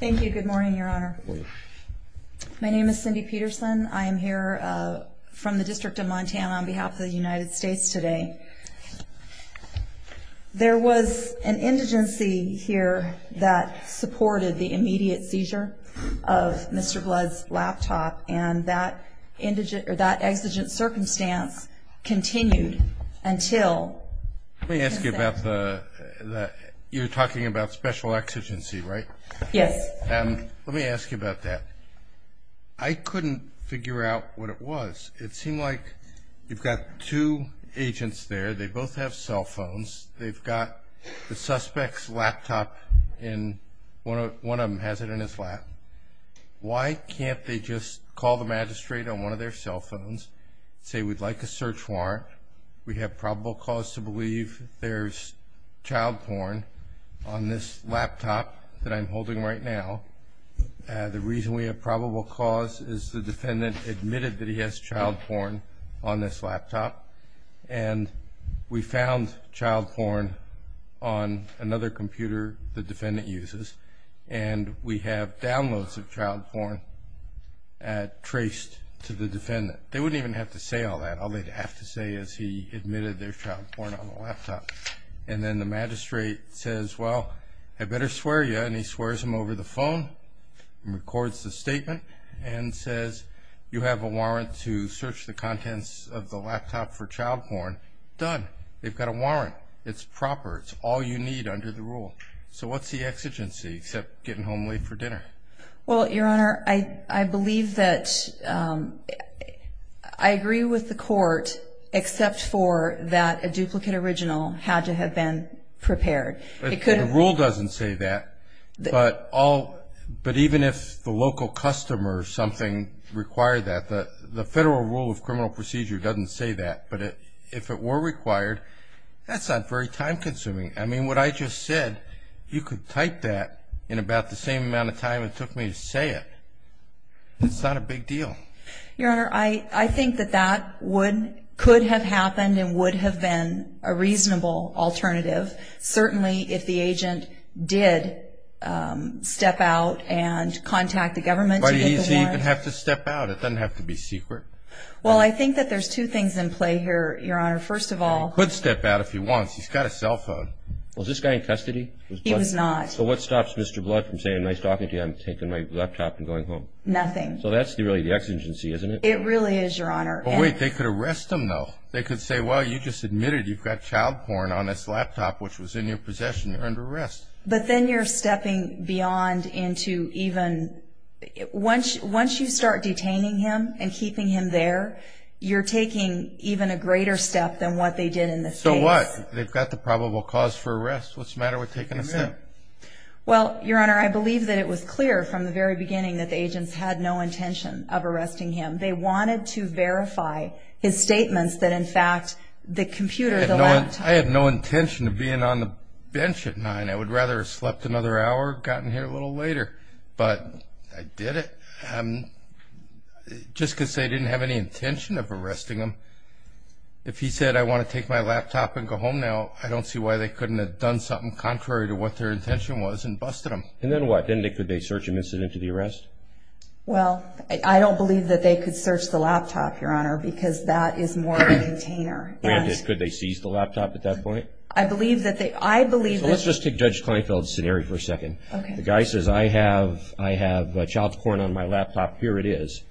thank you good morning your honor my name is Cindy Peterson I am here from the District of Montana on behalf of the United States today there was an indigency here that supported the immediate seizure of mr. bloods laptop and that indigent or that exigent circumstance continued until let me ask you about the you're talking about special exigency right yes and let me ask you about that I couldn't figure out what it was it seemed like you've got two agents there they both have cell phones they've got the suspects laptop in one of them has it in his lap why can't they just call the magistrate on one of their cell phones say we'd like a search warrant we have probable cause to admit that there's child porn on this laptop that I'm holding right now the reason we have probable cause is the defendant admitted that he has child porn on this laptop and we found child porn on another computer the defendant uses and we have downloads of child porn at traced to the defendant they wouldn't even have to say all that all they'd have to say is he admitted their child and then the magistrate says well I better swear you and he swears him over the phone records the statement and says you have a warrant to search the contents of the laptop for child porn done they've got a warrant it's proper it's all you need under the rule so what's the exigency except getting home late for dinner well your honor I I believe that I agree with the court except for that a duplicate original had to have been prepared it could rule doesn't say that but all but even if the local customers something required that the the federal rule of criminal procedure doesn't say that but it if it were required that's not very time-consuming I mean what I just said you could type that in about the same amount of time it took me to say it it's not a big deal your honor I I think that that would could have happened and would have been a reasonable alternative certainly if the agent did step out and contact the government why do you even have to step out it doesn't have to be secret well I think that there's two things in play here your honor first of all could step out if he wants he's got a cell phone was this guy in custody he was not so what stops mr. blood from saying nice talking to you I'm taking my laptop and going home nothing so that's the really the exigency isn't it it really is your honor oh wait they could arrest him though they could say well you just admitted you've got child porn on this laptop which was in your possession you're under arrest but then you're stepping beyond into even once once you start detaining him and keeping him there you're taking even a greater step than what they did in this so what they've got the probable cause for arrest what's the matter with taking a minute well your honor I believe that it was clear from the very beginning that the agents had no intention of arresting him they wanted to verify his statements that in fact the computer I have no intention of being on the bench at 9 I would rather slept another hour gotten here a little later but I did it just cuz they didn't have any intention of arresting him if he said I want to take my laptop and go home now I don't see why they couldn't have done something contrary to what their intention was and what didn't it could they search him incident to the arrest well I don't believe that they could search the laptop your honor because that is more than container this could they seize the laptop at that point I believe that they I believe let's just take judge Kleinfeld scenario for a second the guy says I have I have a child porn on my laptop here it is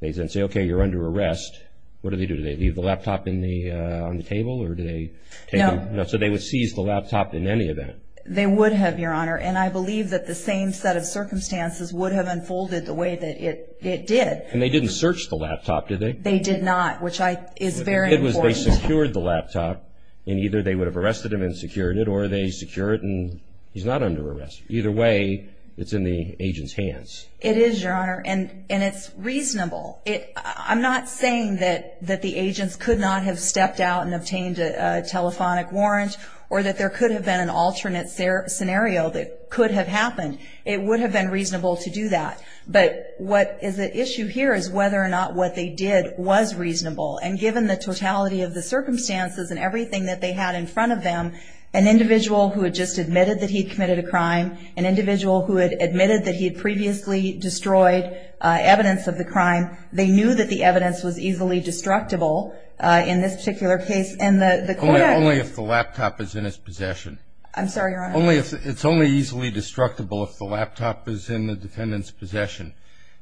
they didn't say okay you're under arrest what do they do they leave the laptop in the on the table or do they know so they would seize the laptop in any event they would have your honor and I believe that the same set of circumstances would have unfolded the way that it it did and they didn't search the laptop today they did not which I is very it was they secured the laptop and either they would have arrested him and secured it or they secure it and he's not under arrest either way it's in the agents hands it is your honor and and it's reasonable it I'm not saying that that the agents could not have stepped out and obtained a telephonic warrant or that there could have been an alternate scenario that could have happened it would have been reasonable to do that but what is the issue here is whether or not what they did was reasonable and given the totality of the circumstances and everything that they had in front of them an individual who had just admitted that he committed a crime an individual who had admitted that he had previously destroyed evidence of the crime they knew that the evidence was easily destructible in this particular case and only if the laptop is in his possession I'm sorry only if it's only easily destructible if the laptop is in the defendant's possession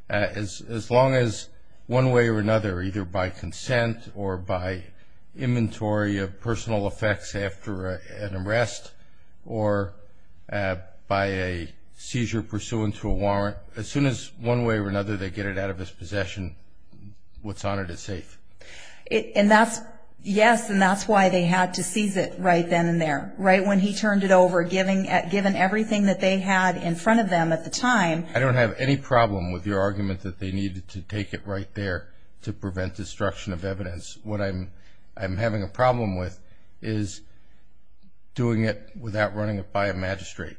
as long as one way or another either by consent or by inventory of personal effects after an arrest or by a seizure pursuant to a warrant as soon as one way or another they get it out of his possession what's on it is safe and that's yes and that's why they had to seize it right then and there right when he turned it over giving at given everything that they had in front of them at the time I don't have any problem with your argument that they needed to take it right there to prevent destruction of evidence what I'm I'm having a problem with is doing it without running it by a magistrate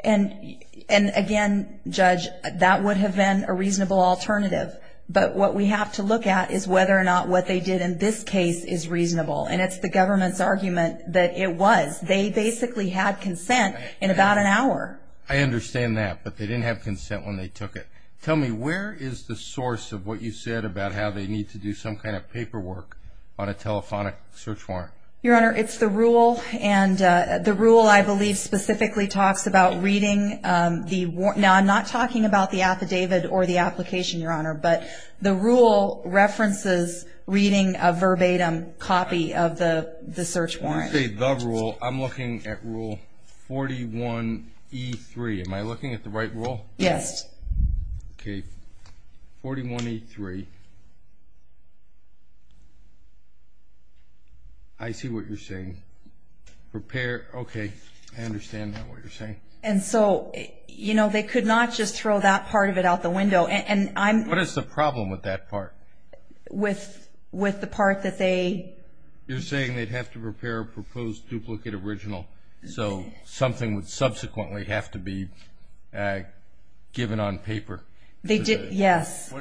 and and again judge that would have been a reasonable alternative but what we have to look at is whether or not what they did in this case is reasonable and it's the government's argument that it was they basically had consent in about an hour I understand that but they didn't have consent when they took it tell me where is the source of what you said about how they need to do some kind of paperwork on a telephonic search warrant your honor it's the rule and the rule I believe specifically talks about reading the war now I'm not talking about the affidavit or the application your honor but the rule references reading a verbatim copy of the the search warrant the rule I'm looking at rule 41 e3 am I looking at the right rule yes okay 41 e3 I see what you're saying prepare okay I understand what you're saying and so you know they could not just throw that part of it out the window and I'm what is the problem with that part with with the part that they you're saying they have to prepare a proposed duplicate original so something would subsequently have to be given on paper they did yes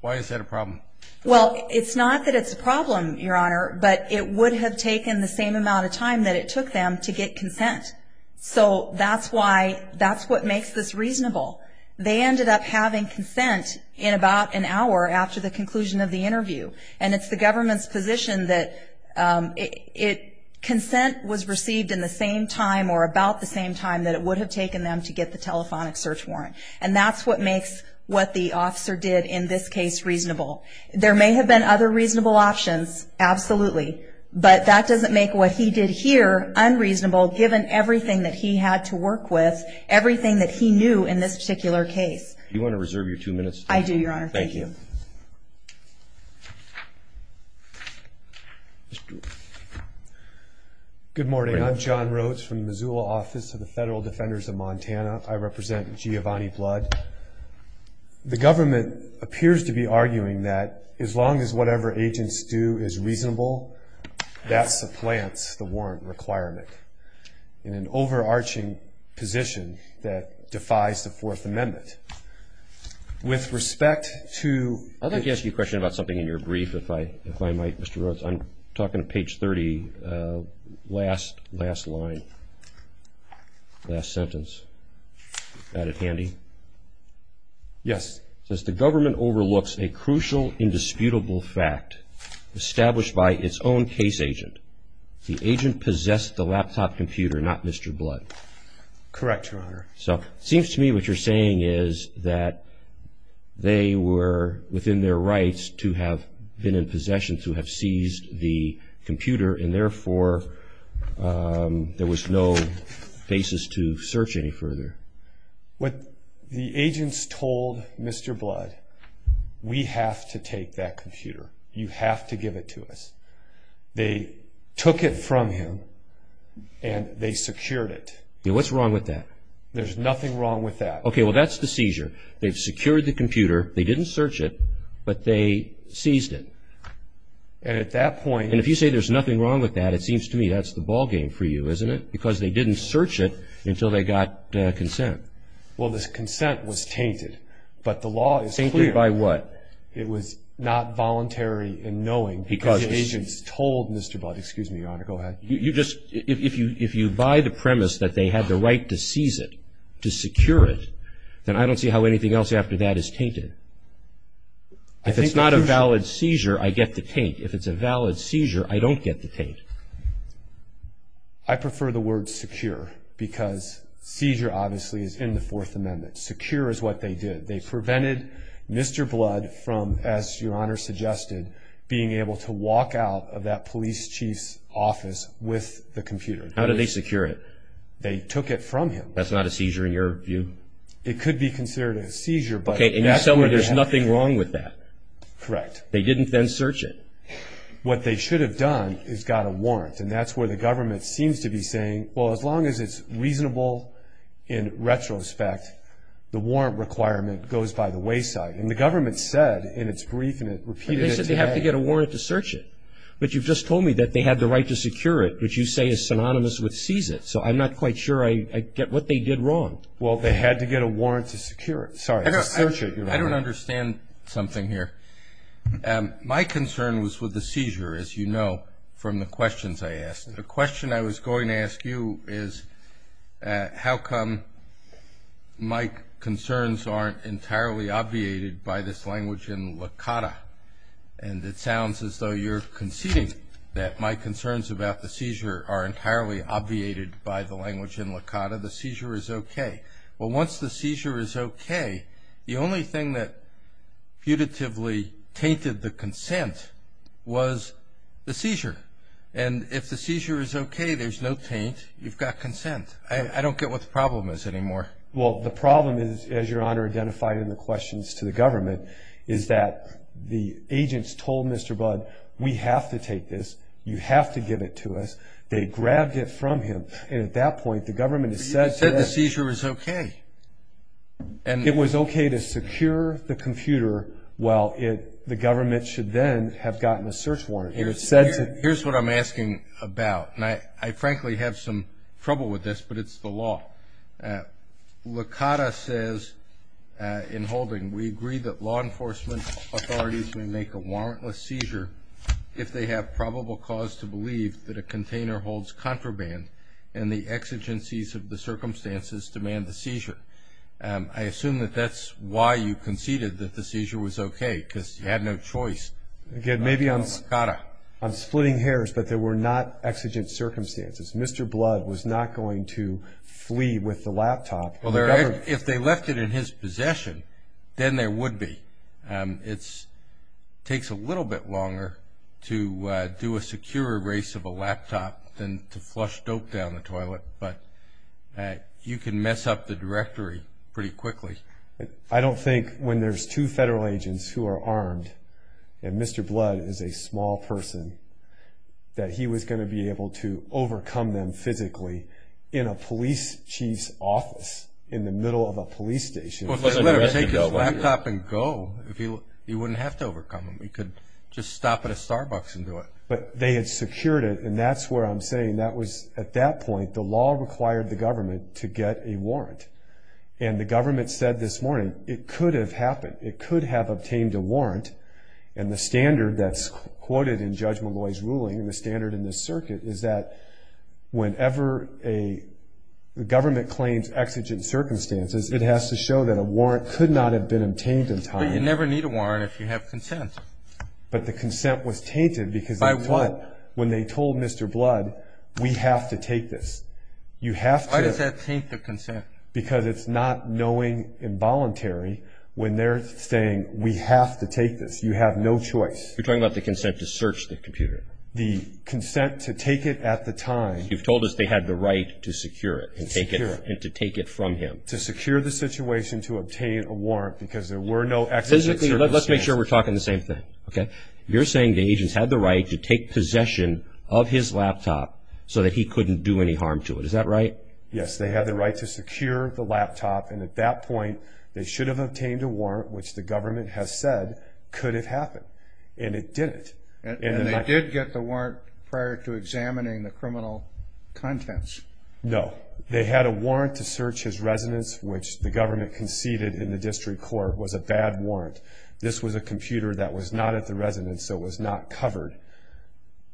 why is that a problem well it's not that it's a problem your honor but it would have taken the same amount of time that it took them to get consent so that's why that's what makes this reasonable they ended up having consent in about an hour after the conclusion of the interview and it's the government's position that it consent was received in the same time or about the same time that it would have taken them to get the telephonic search warrant and that's what makes what the officer did in this case reasonable there may have been other reasonable options absolutely but that doesn't make what he did here unreasonable given everything that he had to work with everything that he knew in this particular case you want to reserve your two minutes I do your honor thank you good morning I'm John Rhodes from Missoula office of the federal defenders of Montana I represent Giovanni blood the government appears to be arguing that as long as whatever agents do is reasonable that supplants the warrant requirement in an overarching position that defies the Fourth Amendment with respect to I'd like to ask you a question about something in your brief if I if I might mr. Rhodes I'm talking to page 30 last last line last sentence yes as the government overlooks a crucial indisputable fact established by its own case agent the agent possessed the laptop computer not mr. blood correct your honor so seems to me what you're saying is that they were within their rights to have been in possession to have seized the computer and therefore there was no basis to search any further what the agents told mr. blood we have to take that computer you have to give it to us they took it from him and they secured it what's wrong with that there's nothing wrong with that okay well that's the seizure they've secured the computer they didn't seized it and at that point and if you say there's nothing wrong with that it seems to me that's the ballgame for you isn't it because they didn't search it until they got consent well this consent was tainted but the law is a clear by what it was not voluntary in knowing because agents told mr. blood excuse me your honor go ahead you just if you if you buy the premise that they had the right to seize it to secure it then I don't see how anything else after that is tainted if it's not a valid seizure I get to take if it's a valid seizure I don't get to take I prefer the word secure because seizure obviously is in the fourth amendment secure is what they did they prevented mr. blood from as your honor suggested being able to walk out of that police chief's office with the computer how do they secure it they took it from him that's not a seizure in your view it could be considered a seizure but in that summer there's nothing wrong with that correct they didn't then search it what they should have done is got a warrant and that's where the government seems to be saying well as long as it's reasonable in retrospect the warrant requirement goes by the wayside and the government said in its brief and it repeated they have to get a warrant to search it but you've just told me that they had the right to secure it which you say is synonymous with seize it so I'm not quite sure I get what they did wrong well they had to get a warrant to secure it sorry I don't understand something here and my concern was with the seizure as you know from the questions I asked the question I was going to ask you is how come my concerns aren't entirely obviated by this language in Lakota and it sounds as though you're conceding that my concerns about the seizure are entirely obviated by the well once the seizure is okay the only thing that putatively tainted the consent was the seizure and if the seizure is okay there's no taint you've got consent I don't get what the problem is anymore well the problem is as your honor identified in the questions to the government is that the agents told mr. bud we have to take this you have to give it to us they grabbed it from him and at that point the government has said that the seizure is okay and it was okay to secure the computer well it the government should then have gotten a search warrant and it said here's what I'm asking about and I I frankly have some trouble with this but it's the law Lakota says in holding we agree that law enforcement authorities may make a warrantless seizure if they have probable cause to believe that a container holds contraband and the exigencies of the circumstances demand the seizure I assume that that's why you conceded that the seizure was okay because you had no choice again maybe on Scott I'm splitting hairs but there were not exigent circumstances mr. blood was not going to flee with the laptop well there if they left it in his possession then there would be it's takes a little bit longer to do a secure erase of a laptop than to flush dope down the toilet but you can mess up the directory pretty quickly I don't think when there's two federal agents who are armed and mr. blood is a small person that he was going to be able to overcome them physically in a police chief's office in the middle of a police station you wouldn't have to overcome them we could just stop at a Starbucks and do it but they had secured it and that's where I'm saying that was at that point the law required the government to get a warrant and the government said this morning it could have happened it could have obtained a warrant and the standard that's quoted in Judge Malloy's ruling and the standard in this circuit is that whenever a government claims exigent circumstances it has to show that a warrant could not have been obtained in time you never need a warrant if you have consent but the consent was tainted because I want when they told mr. blood we have to take this you have to paint the consent because it's not knowing involuntary when they're saying we have to take this you have no choice you're to take it at the time you've told us they had the right to secure it and take it and to take it from him to secure the situation to obtain a warrant because there were no accidents let's make sure we're talking the same thing okay you're saying the agents had the right to take possession of his laptop so that he couldn't do any harm to it is that right yes they had the right to secure the laptop and at that point they should have obtained a warrant which the government has said could have happened and it did it and I did get the warrant prior to examining the criminal contents no they had a warrant to search his residence which the government conceded in the district court was a bad warrant this was a computer that was not at the residence so it was not covered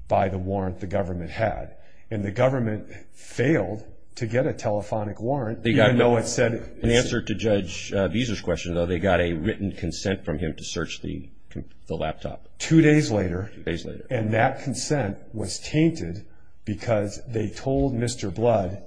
by the warrant the government had and the government failed to get a telephonic warrant they got no it said an answer to judge Beezer's question though they got a written consent from him to search the laptop two days later and that consent was tainted because they told mr. blood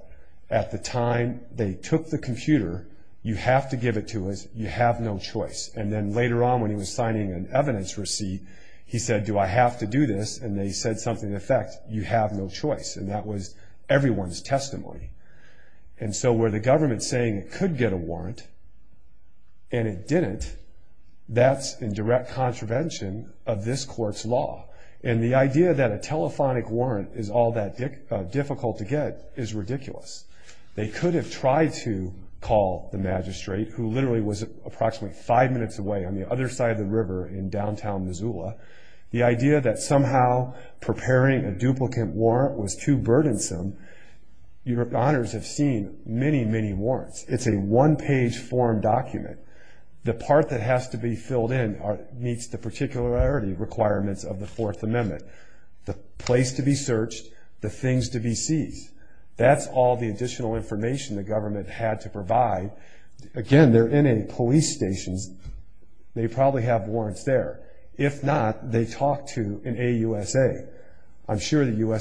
at the time they took the computer you have to give it to us you have no choice and then later on when he was signing an evidence receipt he said do I have to do this and they said something in effect you have no choice and that was everyone's testimony and so where the government saying it could get a warrant and it didn't that's in direct contravention of this court's law and the idea that a telephonic warrant is all that difficult to get is ridiculous they could have tried to call the magistrate who literally was approximately five minutes away on the other side of the river in downtown Missoula the idea that somehow preparing a duplicate warrant was too burdensome your honors have seen many many warrants it's a one-page form document the part that has to be filled in meets the particularity requirements of the Fourth Amendment the place to be searched the things to be seized that's all the additional information the government had to provide again they're in a police stations they probably have warrants there if not they talked to in a USA I'm on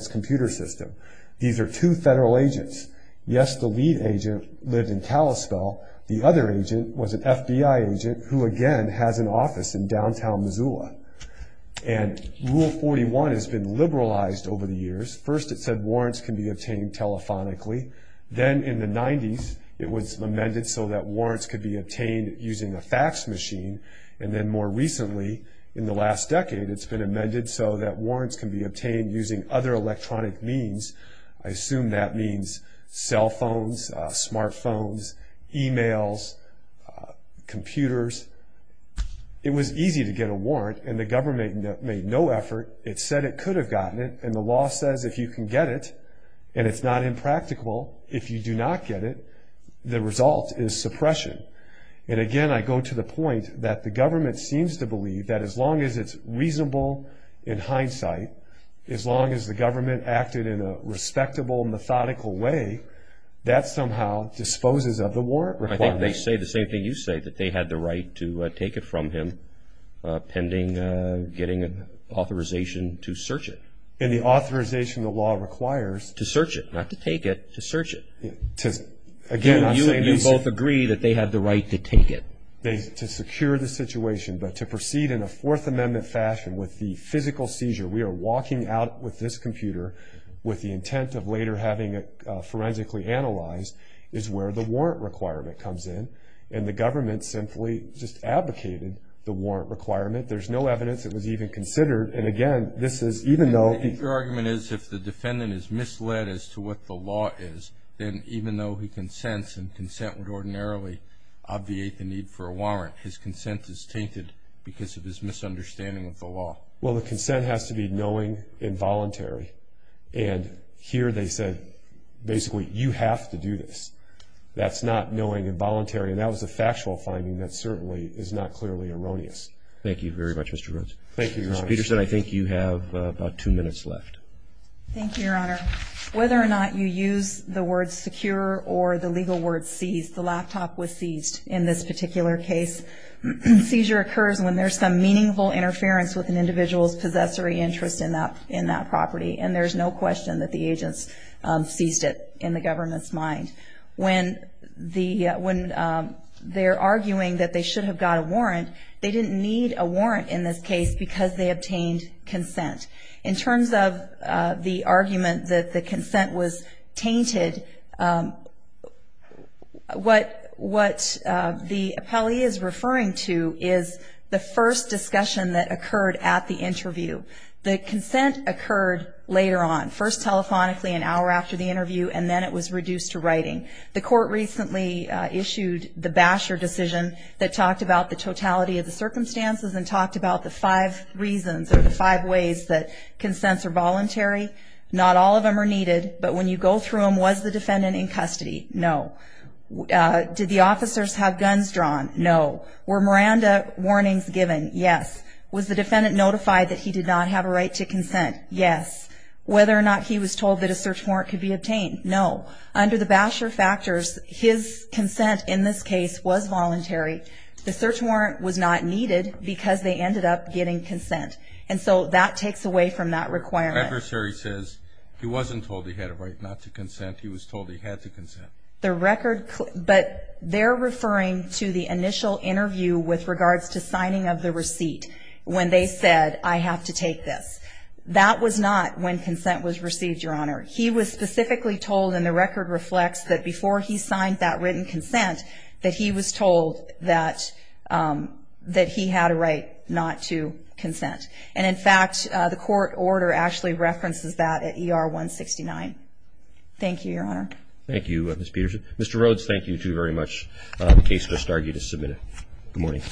his computer system these are two federal agents yes the lead agent live in Kalispell the other agent was an FBI agent who again has an office in downtown Missoula and rule 41 has been liberalized over the years first it said warrants can be obtained telephonically then in the 90s it was amended so that warrants could be obtained using a fax machine and then more recently in the other electronic means I assume that means cell phones smartphones emails computers it was easy to get a warrant and the government made no effort it said it could have gotten it and the law says if you can get it and it's not impractical if you do not get it the result is suppression and again I go to the point that the government seems to believe that as long as it's reasonable in hindsight as long as the government acted in a respectable methodical way that somehow disposes of the war they say the same thing you say that they had the right to take it from him pending getting an authorization to search it in the authorization the law requires to search it not to take it to search it just again you both agree that they have the right to take it they to secure the fashion with the physical seizure we are walking out with this computer with the intent of later having a forensically analyzed is where the warrant requirement comes in and the government simply just advocated the warrant requirement there's no evidence that was even considered and again this is even though the argument is if the defendant is misled as to what the law is then even though he consents and consent would ordinarily obviate the warrant his consent is tainted because of his misunderstanding of the law will consent has to be knowing involuntary and here they said basically you have to do this that's not knowing involuntary that was a factual finding that certainly is not clearly erroneous thank you very much mr. Rhodes thank you mr. Peterson I think you have about two minutes left whether or not you use the seizure occurs when there's some meaningful interference with an individual's possessory interest in that in that property and there's no question that the agents seized it in the government's mind when the when they're arguing that they should have got a warrant they didn't need a warrant in this case because they obtained consent in terms of the argument that the is referring to is the first discussion that occurred at the interview the consent occurred later on first telephonically an hour after the interview and then it was reduced to writing the court recently issued the basher decision that talked about the totality of the circumstances and talked about the five reasons or the five ways that consents are voluntary not all of them are needed but when you go through them was the defendant in custody no did the officers have guns drawn no were Miranda warnings given yes was the defendant notified that he did not have a right to consent yes whether or not he was told that a search warrant could be obtained no under the basher factors his consent in this case was voluntary the search warrant was not needed because they ended up getting consent and so that takes away from that requirement sir he says he wasn't told he had a right not to consent he was told he had the record but they're referring to the initial interview with regards to signing of the receipt when they said I have to take this that was not when consent was received your honor he was specifically told in the record reflects that before he signed that written consent that he was told that that he had a right not to consent and in fact the court order actually references that at 169 thank you your honor thank you mr. Rhodes thank you to very much the case must argue to submit it good morning